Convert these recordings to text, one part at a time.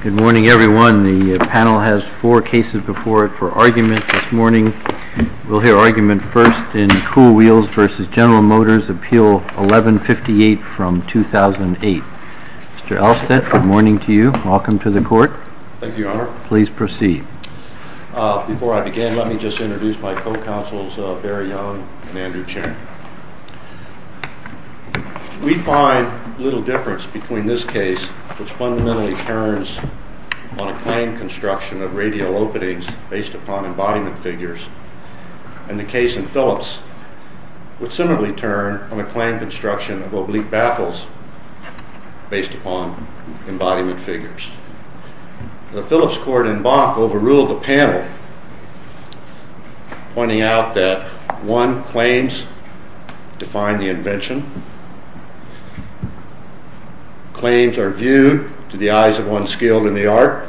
Good morning everyone. The panel has four cases before it for argument this morning. We'll hear argument first in Kuhl Wheels v. General Motors, Appeal 1158 from 2008. Mr. Alstett, good morning to you. Welcome to the court. Thank you, Your Honor. Please proceed. Before I begin, let me just introduce my co-counsels, Barry Young and Andrew Chen. We find little difference between this case, which fundamentally turns on a claim construction of radial openings based upon embodiment figures, and the case in Phillips, which similarly turned on a claim construction of oblique baffles based upon embodiment figures. The Phillips court in Bach overruled the panel, pointing out that one, claims define the invention. Claims are viewed to the eyes of one skilled in the art.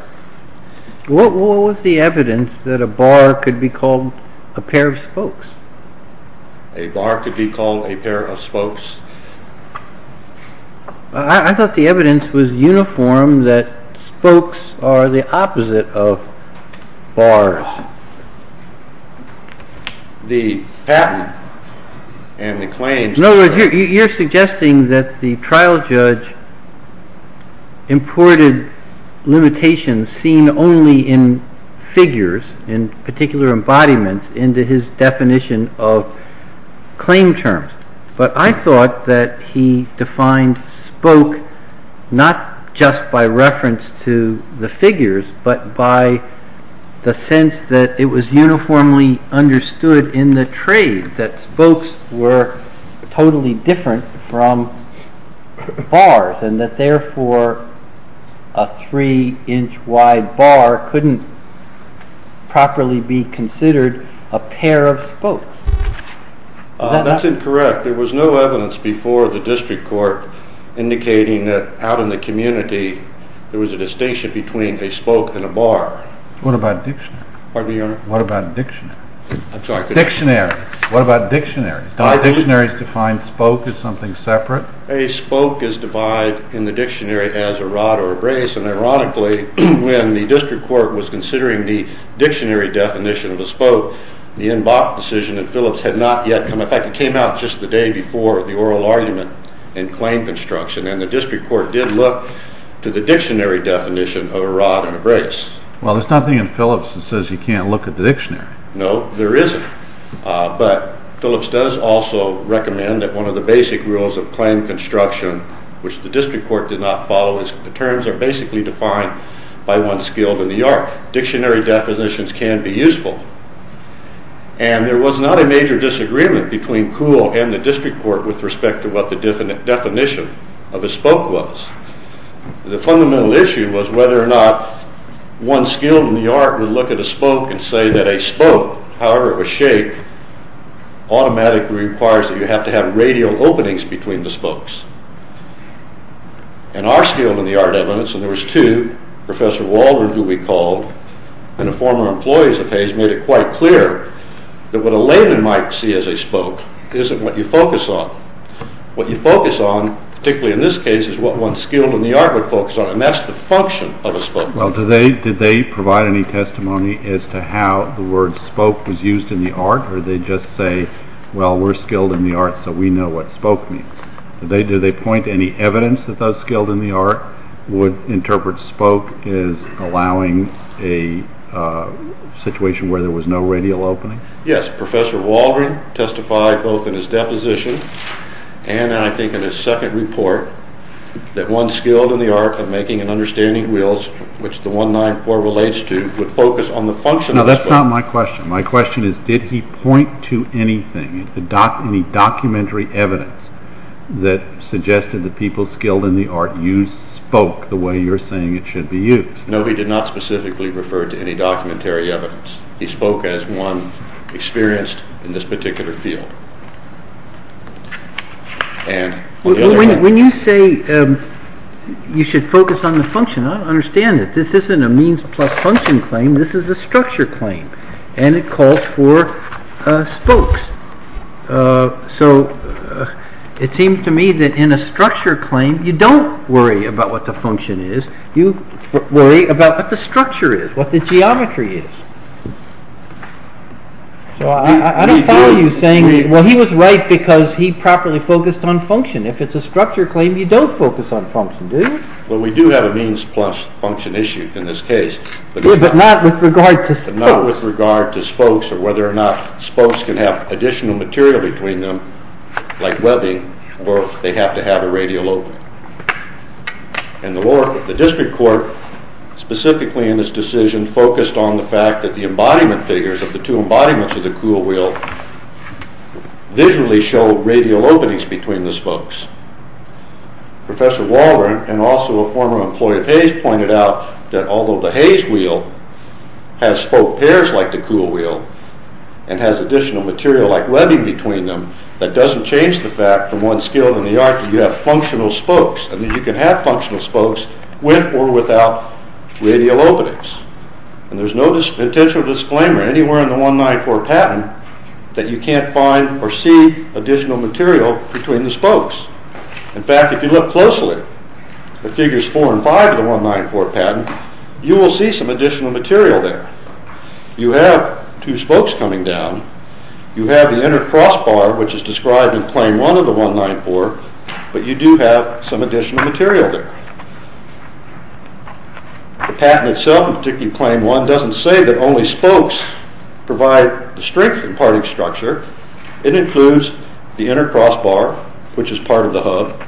What was the evidence that a bar could be called a pair of spokes? A bar could be called a pair of spokes. I thought the evidence was uniform that spokes are the opposite of bars. The patent and the claims… No, you're suggesting that the trial judge imported limitations seen only in figures, in particular embodiments, into his definition of claim terms. But I thought that he defined spoke not just by reference to the figures, but by the sense that it was uniformly understood in the trade, that spokes were totally different from bars, and that therefore a three-inch wide bar couldn't properly be considered a pair of spokes. That's incorrect. There was no evidence before the district court indicating that out in the community there was a distinction between a spoke and a bar. What about dictionaries? What about dictionaries? Don't dictionaries define spoke as something separate? A spoke is defined in the dictionary as a rod or a brace, and ironically, when the district court was considering the dictionary definition of a spoke, the NBOP decision in Phillips had not yet come up. In fact, it came out just the day before the oral argument in claim construction, and the district court did look to the dictionary definition of a rod and a brace. Well, there's nothing in Phillips that says you can't look at the dictionary. No, there isn't. But Phillips does also recommend that one of the basic rules of claim construction, which the district court did not follow, is the terms are basically defined by one skilled in the art. Dictionary definitions can be useful. And there was not a major disagreement between Kuhl and the district court with respect to what the definition of a spoke was. The fundamental issue was whether or not one skilled in the art would look at a spoke and say that a spoke, however it was shaped, automatically requires that you have to have radial openings between the spokes. In our skilled in the art evidence, and there was two, Professor Waldron, who we called, and the former employees of Hayes, made it quite clear that what a layman might see as a spoke isn't what you focus on. What you focus on, particularly in this case, is what one skilled in the art would focus on, and that's the function of a spoke. Well, did they provide any testimony as to how the word spoke was used in the art, or did they just say, well, we're skilled in the art, so we know what spoke means? Did they point to any evidence that those skilled in the art would interpret spoke as allowing a situation where there was no radial opening? Yes. Professor Waldron testified both in his deposition and I think in his second report that one skilled in the art of making and understanding wheels, which the 194 relates to, would focus on the function of the spoke. That's not my question. My question is, did he point to anything, any documentary evidence, that suggested that people skilled in the art used spoke the way you're saying it should be used? No, he did not specifically refer to any documentary evidence. He spoke as one experienced in this particular field. When you say you should focus on the function, I don't understand it. This isn't a means plus function claim, this is a structure claim, and it calls for spokes. So, it seems to me that in a structure claim, you don't worry about what the function is, you worry about what the structure is, what the geometry is. So, I don't follow you saying, well, he was right because he properly focused on function. If it's a structure claim, you don't focus on function, do you? Well, we do have a means plus function issue in this case. But not with regard to spokes. But not with regard to spokes, or whether or not spokes can have additional material between them, like webbing, or they have to have a radial opening. And the district court, specifically in this decision, focused on the fact that the embodiment figures, of the two embodiments of the cool wheel, visually show radial openings between the spokes. Professor Walburn, and also a former employee of Hayes, pointed out that although the Hayes wheel has spoke pairs like the cool wheel, and has additional material like webbing between them, that doesn't change the fact from one skill in the art that you have functional spokes. And that you can have functional spokes with or without radial openings. And there's no intentional disclaimer anywhere in the 194 patent that you can't find or see additional material between the spokes. In fact, if you look closely at Figures 4 and 5 of the 194 patent, you will see some additional material there. You have two spokes coming down. You have the inner crossbar, which is described in Claim 1 of the 194, but you do have some additional material there. The patent itself, particularly Claim 1, doesn't say that only spokes provide the strength and parting structure. It includes the inner crossbar, which is part of the hub.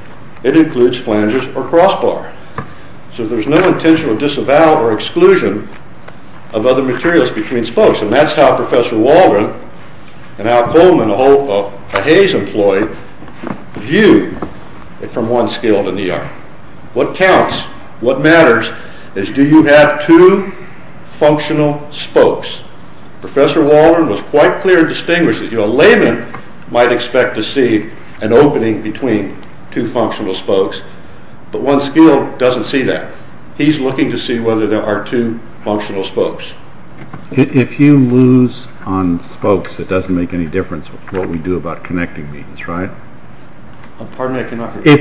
It includes flanges or crossbar. So there's no intentional disavowal or exclusion of other materials between spokes. And that's how Professor Walburn and Al Coleman, a Hayes employee, view it from one skill in the art. What counts, what matters, is do you have two functional spokes. Professor Walburn was quite clear and distinguished. A layman might expect to see an opening between two functional spokes, but one skill doesn't see that. He's looking to see whether there are two functional spokes. If you lose on spokes, it doesn't make any difference what we do about connecting these, right? Pardon me, I cannot hear you.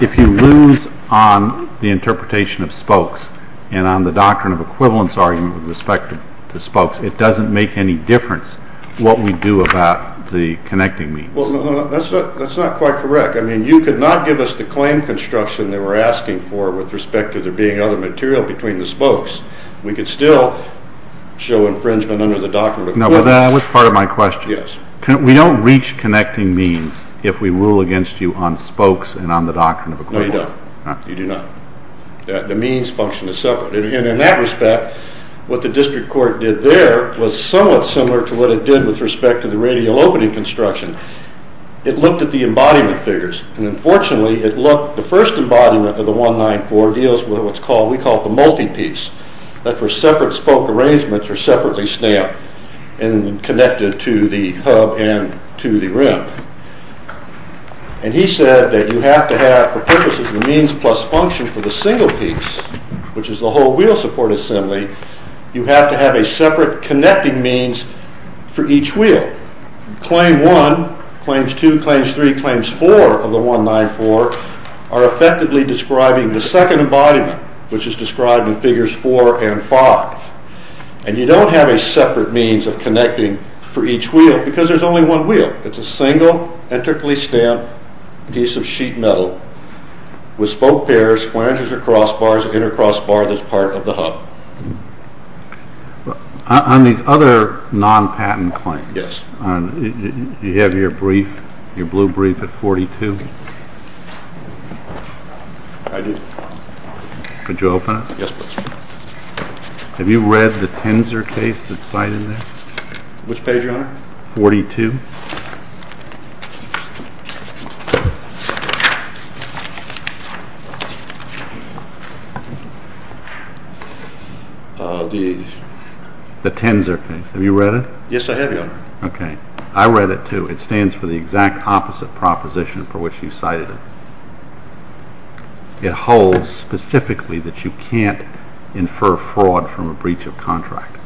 If you lose on the interpretation of spokes and on the doctrine of equivalence argument with respect to spokes, it doesn't make any difference what we do about the connecting means. Well, that's not quite correct. I mean, you could not give us the claim construction they were asking for with respect to there being other material between the spokes. We could still show infringement under the doctrine of equivalence. No, but that was part of my question. Yes. We don't reach connecting means if we rule against you on spokes and on the doctrine of equivalence. No, you don't. You do not. The means function is separate. And in that respect, what the district court did there was somewhat similar to what it did with respect to the radial opening construction. It looked at the embodiment figures. And unfortunately, the first embodiment of the 194 deals with what we call the multi-piece. That's where separate spoke arrangements are separately stamped and connected to the hub and to the rim. And he said that you have to have, for purposes of the means plus function for the single piece, which is the whole wheel support assembly, you have to have a separate connecting means for each wheel. Claim 1, Claims 2, Claims 3, Claims 4 of the 194 are effectively describing the second embodiment, which is described in Figures 4 and 5. And you don't have a separate means of connecting for each wheel because there's only one wheel. It's a single, intricately stamped piece of sheet metal with spoke pairs, flanges or crossbars, an inner crossbar that's part of the hub. On these other non-patent claims, you have your brief, your blue brief at 42? I do. Could you open it? Yes, please. Have you read the Tenzer case that's cited there? Which page, Your Honor? 42. The Tenzer case. Have you read it? Yes, I have, Your Honor. Okay. I read it, too. It stands for the exact opposite proposition for which you cited it. It holds specifically that you can't infer fraud from a breach of contract.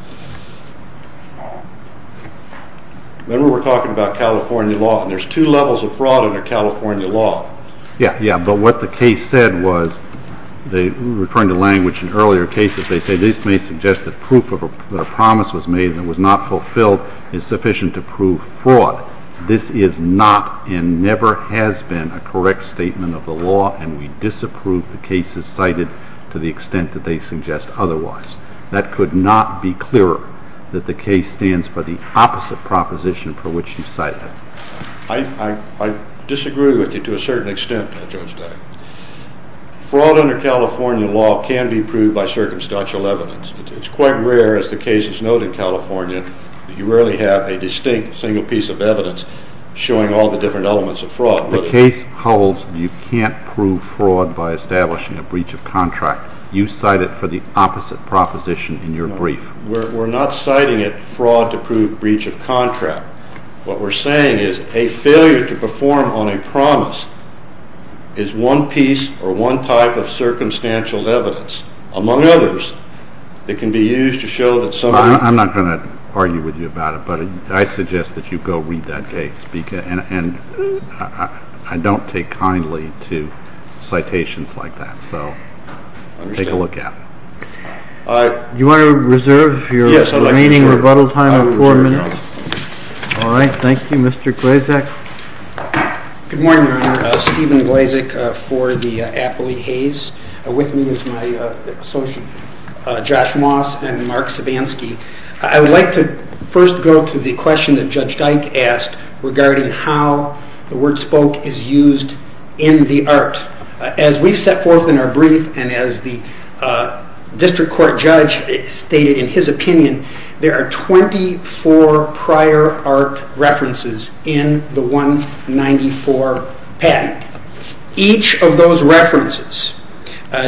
Remember, we're talking about California law, and there's two levels of fraud under California law. Yeah, but what the case said was, referring to language in earlier cases, they say this may suggest that proof that a promise was made that was not fulfilled is sufficient to prove fraud. This is not and never has been a correct statement of the law, and we disapprove the cases cited to the extent that they suggest otherwise. That could not be clearer that the case stands for the opposite proposition for which you cited it. I disagree with you to a certain extent, Judge Day. Fraud under California law can be proved by circumstantial evidence. It's quite rare, as the case is noted in California, that you rarely have a distinct single piece of evidence showing all the different elements of fraud. The case holds you can't prove fraud by establishing a breach of contract. You cite it for the opposite proposition in your brief. We're not citing it fraud to prove breach of contract. What we're saying is a failure to perform on a promise is one piece or one type of circumstantial evidence, among others, that can be used to show that somebody is trying to prove a breach of contract. I'm not going to argue with you about it, but I suggest that you go read that case, and I don't take kindly to citations like that. So take a look at it. Do you want to reserve your remaining rebuttal time of four minutes? Yes, I'd like to reserve it. All right. Thank you. Mr. Glazek? Good morning, Your Honor. Stephen Glazek for the Appley-Hayes. With me is my associate, Josh Moss and Mark Sabansky. I would like to first go to the question that Judge Dyke asked regarding how the word spoke is used in the art. As we've set forth in our brief, and as the district court judge stated in his opinion, there are 24 prior art references in the 194 patent. Each of those references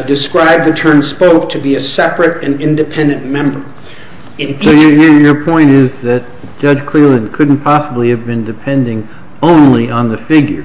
describe the term spoke to be a separate and independent member. So your point is that Judge Cleland couldn't possibly have been depending only on the figures.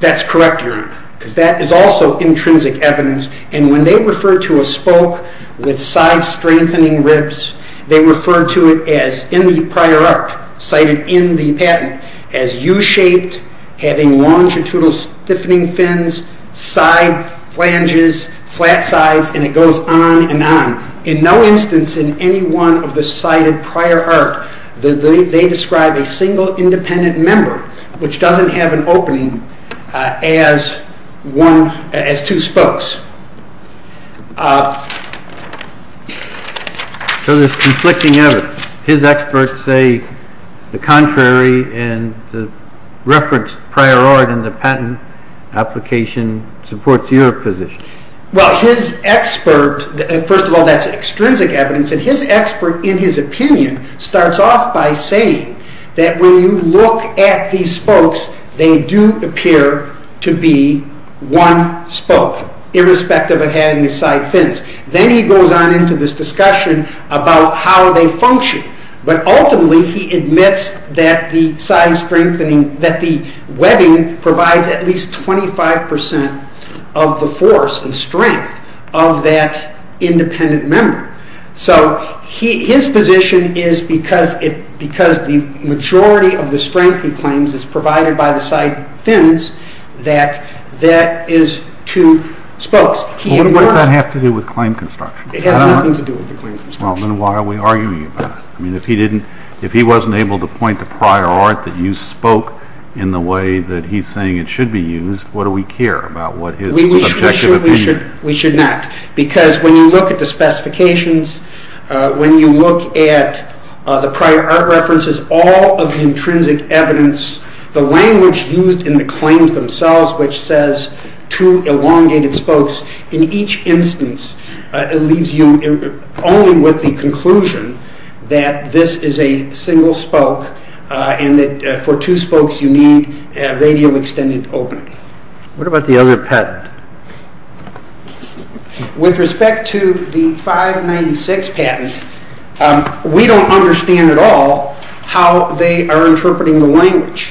That's correct, Your Honor, because that is also intrinsic evidence, and when they refer to a spoke with side-strengthening ribs, they refer to it as, in the prior art cited in the patent, as U-shaped, having longitudinal stiffening fins, side flanges, flat sides, and it goes on and on. In no instance in any one of the cited prior art do they describe a single independent member, which doesn't have an opening, as two spokes. So there's conflicting evidence. His experts say the contrary, and the reference prior art in the patent application supports your position. Well, his expert, first of all, that's extrinsic evidence, and his expert, in his opinion, starts off by saying that when you look at these spokes, they do appear to be one spoke, irrespective of having the side fins. Then he goes on into this discussion about how they function. But ultimately, he admits that the webbing provides at least 25% of the force and strength of that independent member. So his position is because the majority of the strength, he claims, is provided by the side fins, that that is two spokes. What does that have to do with claim construction? It has nothing to do with the claim construction. Well, then why are we arguing about it? If he wasn't able to point to prior art that you spoke in the way that he's saying it should be used, what do we care about what his subjective opinion is? We should not. Because when you look at the specifications, when you look at the prior art references, all of the intrinsic evidence, the language used in the claims themselves, which says two elongated spokes, in each instance leaves you only with the conclusion that this is a single spoke and that for two spokes you need a radial extended opening. What about the other patent? With respect to the 596 patent, we don't understand at all how they are interpreting the language.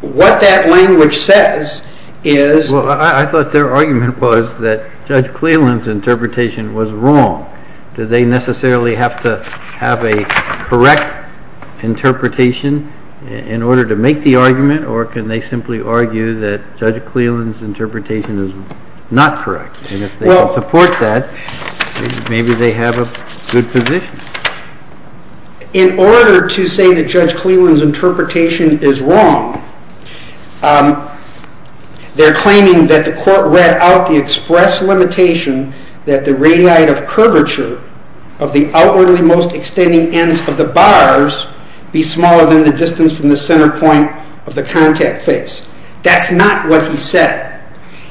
What that language says is... Well, I thought their argument was that Judge Cleland's interpretation was wrong. Do they necessarily have to have a correct interpretation in order to make the argument? Or can they simply argue that Judge Cleland's interpretation is not correct? And if they support that, maybe they have a good position. In order to say that Judge Cleland's interpretation is wrong, they're claiming that the court read out the express limitation that the radii of curvature of the outwardly most extending ends of the bars be smaller than the distance from the centre point of the contact face. That's not what he said.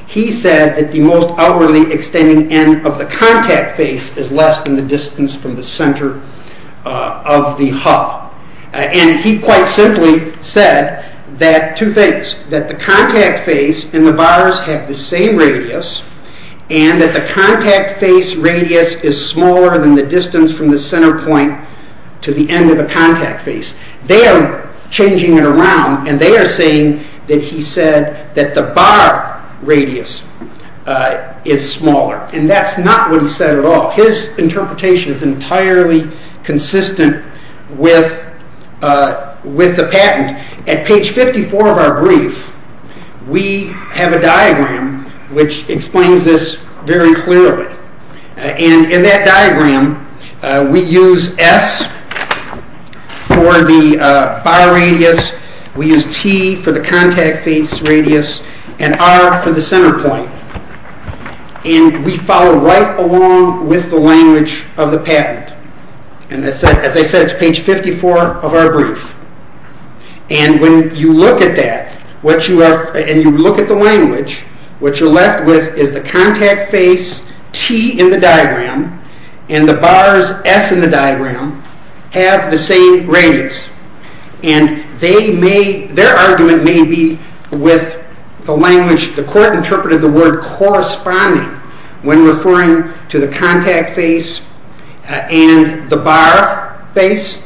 He said that the most outwardly extending end of the contact face is less than the distance from the centre of the hub. And he quite simply said two things. That the contact face and the bars have the same radius, and that the contact face radius is smaller than the distance from the centre point to the end of the contact face. They are changing it around, and they are saying that he said that the bar radius is smaller. And that's not what he said at all. His interpretation is entirely consistent with the patent. At page 54 of our brief, we have a diagram which explains this very clearly. And in that diagram, we use S for the bar radius, we use T for the contact face radius, and R for the centre point. And we follow right along with the language of the patent. And as I said, it's page 54 of our brief. And when you look at that, and you look at the language, what you're left with is the contact face, T in the diagram, and the bars, S in the diagram, have the same radius. And their argument may be with the language, the court interpreted the word corresponding when referring to the contact face and the bar face.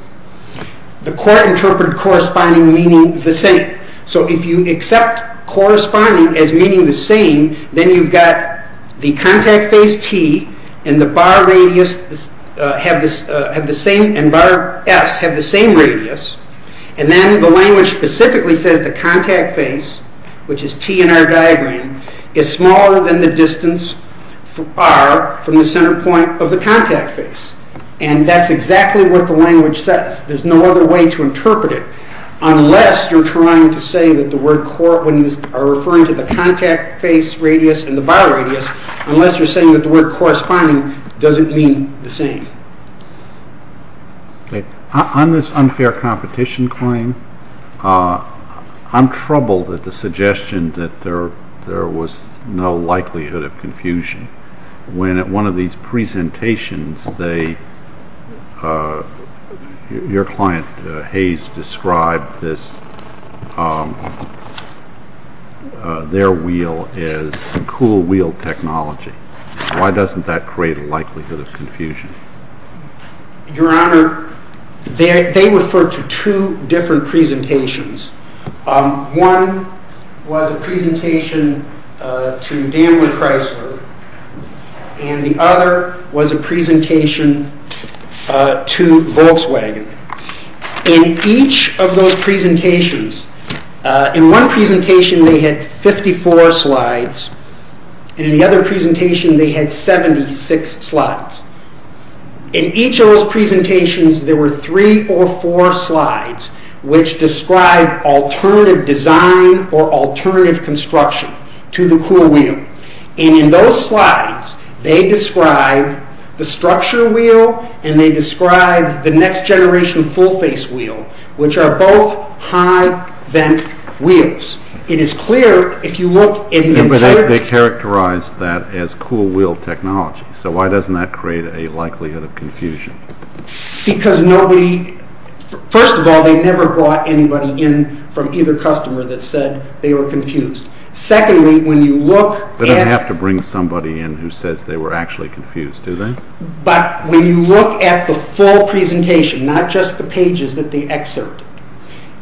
The court interpreted corresponding meaning the same. So if you accept corresponding as meaning the same, then you've got the contact face, T, and the bar S have the same radius. And then the language specifically says the contact face, which is T in our diagram, is smaller than the distance, R, from the centre point of the contact face. And that's exactly what the language says. There's no other way to interpret it, unless you're trying to say that the word, when you are referring to the contact face radius and the bar radius, unless you're saying that the word corresponding doesn't mean the same. On this unfair competition claim, I'm troubled at the suggestion that there was no likelihood of confusion. When at one of these presentations, your client, Hayes, described their wheel as cool wheel technology. Why doesn't that create a likelihood of confusion? Your Honour, they referred to two different presentations. One was a presentation to Dandler Chrysler, and the other was a presentation to Volkswagen. In each of those presentations, in one presentation they had 54 slides, and in the other presentation they had 76 slides. In each of those presentations, there were three or four slides which described alternative design or alternative construction to the cool wheel. And in those slides, they described the structure wheel and they described the next-generation full-face wheel, which are both high-vent wheels. But they characterized that as cool wheel technology, so why doesn't that create a likelihood of confusion? First of all, they never brought anybody in from either customer that said they were confused. Secondly, when you look at... They don't have to bring somebody in who says they were actually confused, do they? But when you look at the full presentation, not just the pages that they excerpt,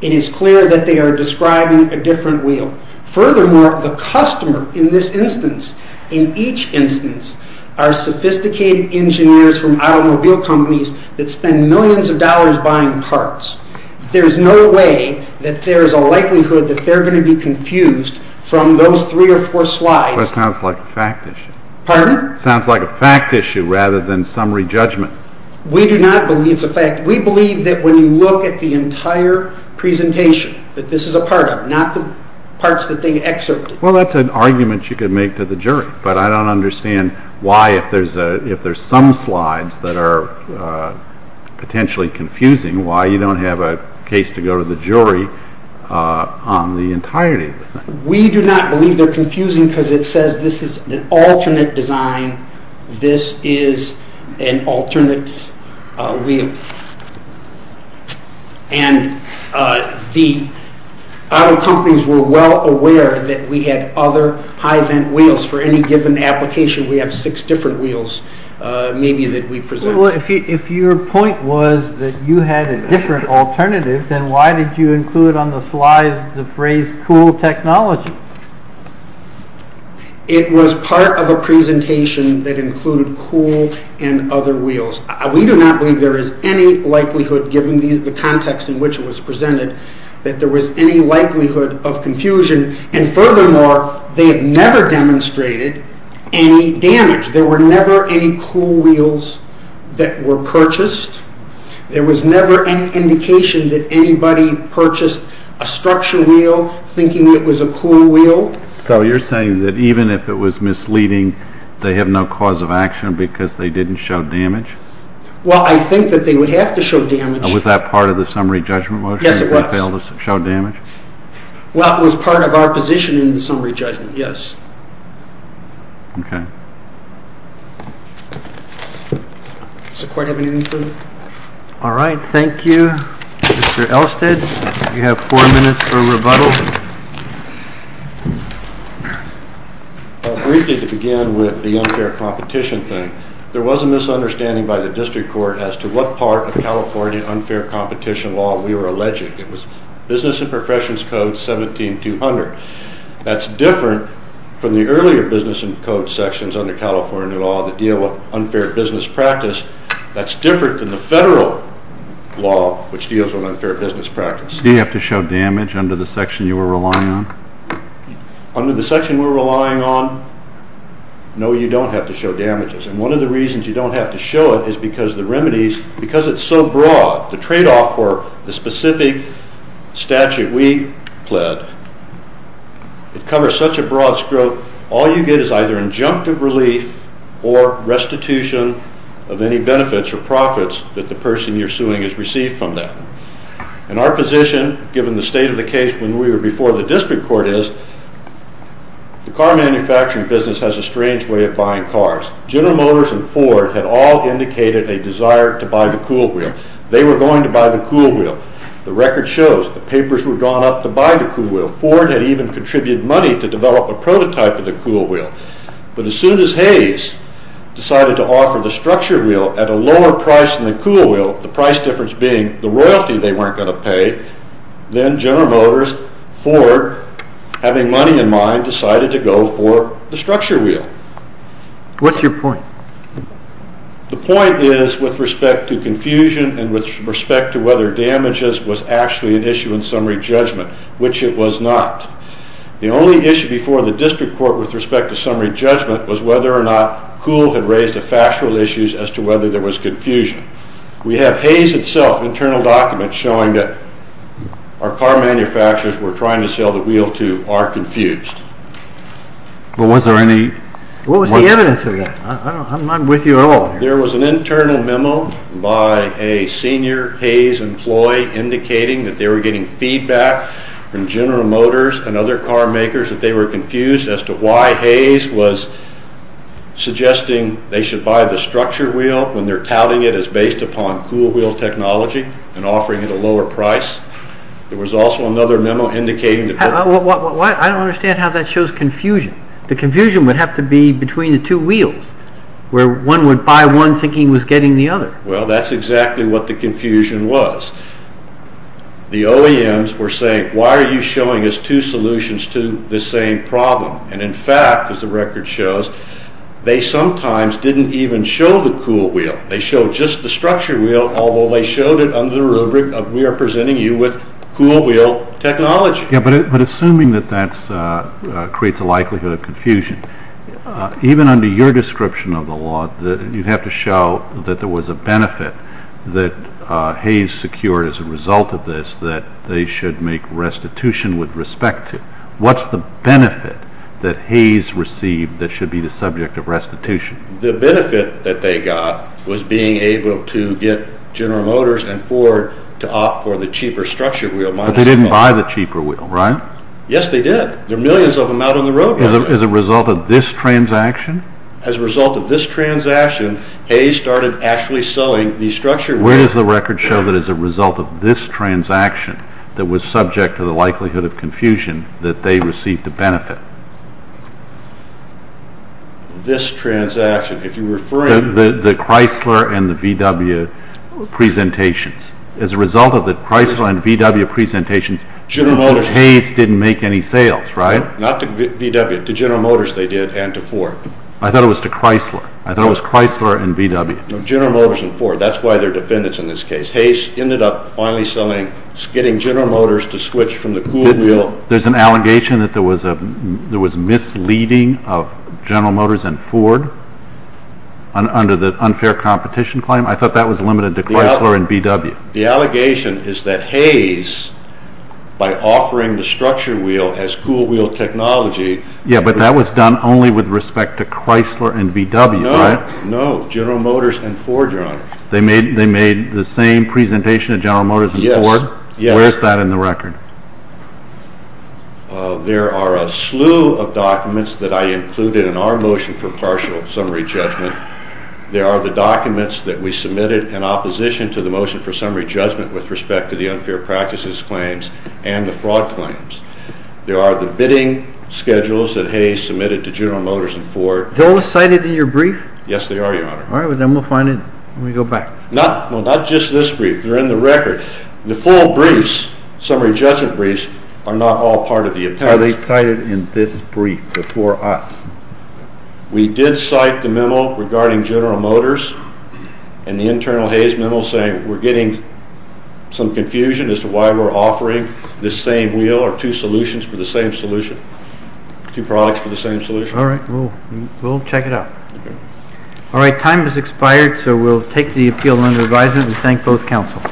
it is clear that they are describing a different wheel. Furthermore, the customer in this instance, in each instance, are sophisticated engineers from automobile companies that spend millions of dollars buying parts. There's no way that there's a likelihood that they're going to be confused from those three or four slides. But it sounds like a fact issue. Pardon? It sounds like a fact issue rather than summary judgment. We do not believe it's a fact. We believe that when you look at the entire presentation, that this is a part of it, not the parts that they excerpted. Well, that's an argument you could make to the jury, but I don't understand why, if there's some slides that are potentially confusing, why you don't have a case to go to the jury on the entirety of the thing. We do not believe they're confusing because it says this is an alternate design, this is an alternate wheel. And the auto companies were well aware that we had other high vent wheels for any given application. We have six different wheels, maybe, that we present. If your point was that you had a different alternative, then why did you include on the slide the phrase, cool technology? It was part of a presentation that included cool and other wheels. We do not believe there is any likelihood, given the context in which it was presented, that there was any likelihood of confusion. And furthermore, they have never demonstrated any damage. There were never any cool wheels that were purchased. There was never any indication that anybody purchased a structure wheel thinking it was a cool wheel. So you're saying that even if it was misleading, they have no cause of action because they didn't show damage? Well, I think that they would have to show damage. Was that part of the summary judgment motion? Yes, it was. They failed to show damage? Well, it was part of our position in the summary judgment, yes. Okay. Does the court have anything further? All right, thank you. Mr. Elstead, you have four minutes for rebuttal. Briefly to begin with the unfair competition thing, there was a misunderstanding by the district court as to what part of California unfair competition law we were alleging. It was Business and Professions Code 17-200. That's different from the earlier business and code sections under California law that deal with unfair business practice. That's different than the federal law which deals with unfair business practice. Do you have to show damage under the section you were relying on? Under the section we're relying on, no, you don't have to show damages. And one of the reasons you don't have to show it is because the remedies, because it's so broad, the tradeoff for the specific statute we pled, it covers such a broad scope, all you get is either injunctive relief or restitution of any benefits or profits that the person you're suing has received from that. And our position, given the state of the case when we were before the district court, is the car manufacturing business has a strange way of buying cars. General Motors and Ford had all indicated a desire to buy the cool wheel. They were going to buy the cool wheel. The record shows the papers were drawn up to buy the cool wheel. Ford had even contributed money to develop a prototype of the cool wheel. But as soon as Hayes decided to offer the structure wheel at a lower price than the cool wheel, the price difference being the royalty they weren't going to pay, then General Motors, Ford, having money in mind, decided to go for the structure wheel. What's your point? The point is with respect to confusion and with respect to whether damages was actually an issue in summary judgment, which it was not. The only issue before the district court with respect to summary judgment was whether or not Kuhl had raised the factual issues as to whether there was confusion. We have Hayes itself, internal documents showing that our car manufacturers were trying to sell the wheel to are confused. What was the evidence of that? I'm not with you at all. There was an internal memo by a senior Hayes employee indicating that they were getting feedback from General Motors and other car makers that they were confused as to why Hayes was suggesting they should buy the structure wheel when they're touting it as based upon cool wheel technology and offering it a lower price. There was also another memo indicating that... I don't understand how that shows confusion. The confusion would have to be between the two wheels where one would buy one thinking he was getting the other. Well, that's exactly what the confusion was. The OEMs were saying, why are you showing us two solutions to the same problem? And in fact, as the record shows, they sometimes didn't even show the cool wheel. They showed just the structure wheel, although they showed it under the rubric of we are presenting you with cool wheel technology. Yeah, but assuming that that creates a likelihood of confusion, even under your description of the law, you'd have to show that there was a benefit that Hayes secured as a result of this that they should make restitution with respect to. What's the benefit that Hayes received that should be the subject of restitution? The benefit that they got was being able to get General Motors and Ford to opt for the cheaper structure wheel. But they didn't buy the cheaper wheel, right? Yes, they did. There are millions of them out on the road. As a result of this transaction? As a result of this transaction, Hayes started actually selling the structure wheel. Where does the record show that as a result of this transaction that was subject to the likelihood of confusion that they received a benefit? This transaction. If you're referring... The Chrysler and the VW presentations. As a result of the Chrysler and VW presentations, General Motors didn't make any sales, right? Not to VW. To General Motors they did and to Ford. I thought it was to Chrysler. I thought it was Chrysler and VW. General Motors and Ford. That's why they're defendants in this case. Hayes ended up finally getting General Motors to switch from the cool wheel... There's an allegation that there was misleading of General Motors and Ford under the unfair competition claim. I thought that was limited to Chrysler and VW. The allegation is that Hayes, by offering the structure wheel as cool wheel technology... Yeah, but that was done only with respect to Chrysler and VW, right? No. No. General Motors and Ford, Your Honor. They made the same presentation of General Motors and Ford? Yes. Where's that in the record? There are a slew of documents that I included in our motion for partial summary judgment. There are the documents that we submitted in opposition to the motion for summary judgment with respect to the unfair practices claims and the fraud claims. There are the bidding schedules that Hayes submitted to General Motors and Ford. They're all cited in your brief? Yes, they are, Your Honor. All right. Then we'll find it when we go back. Not just this brief. They're in the record. The full briefs, summary judgment briefs, are not all part of the appendix. Are they cited in this brief before us? We did cite the memo regarding General Motors and the internal Hayes memo saying we're getting some confusion as to why we're offering this same wheel or two solutions for the same solution, two products for the same solution. All right. We'll check it out. All right. Time has expired, so we'll take the appeal under advisement and thank both counsel.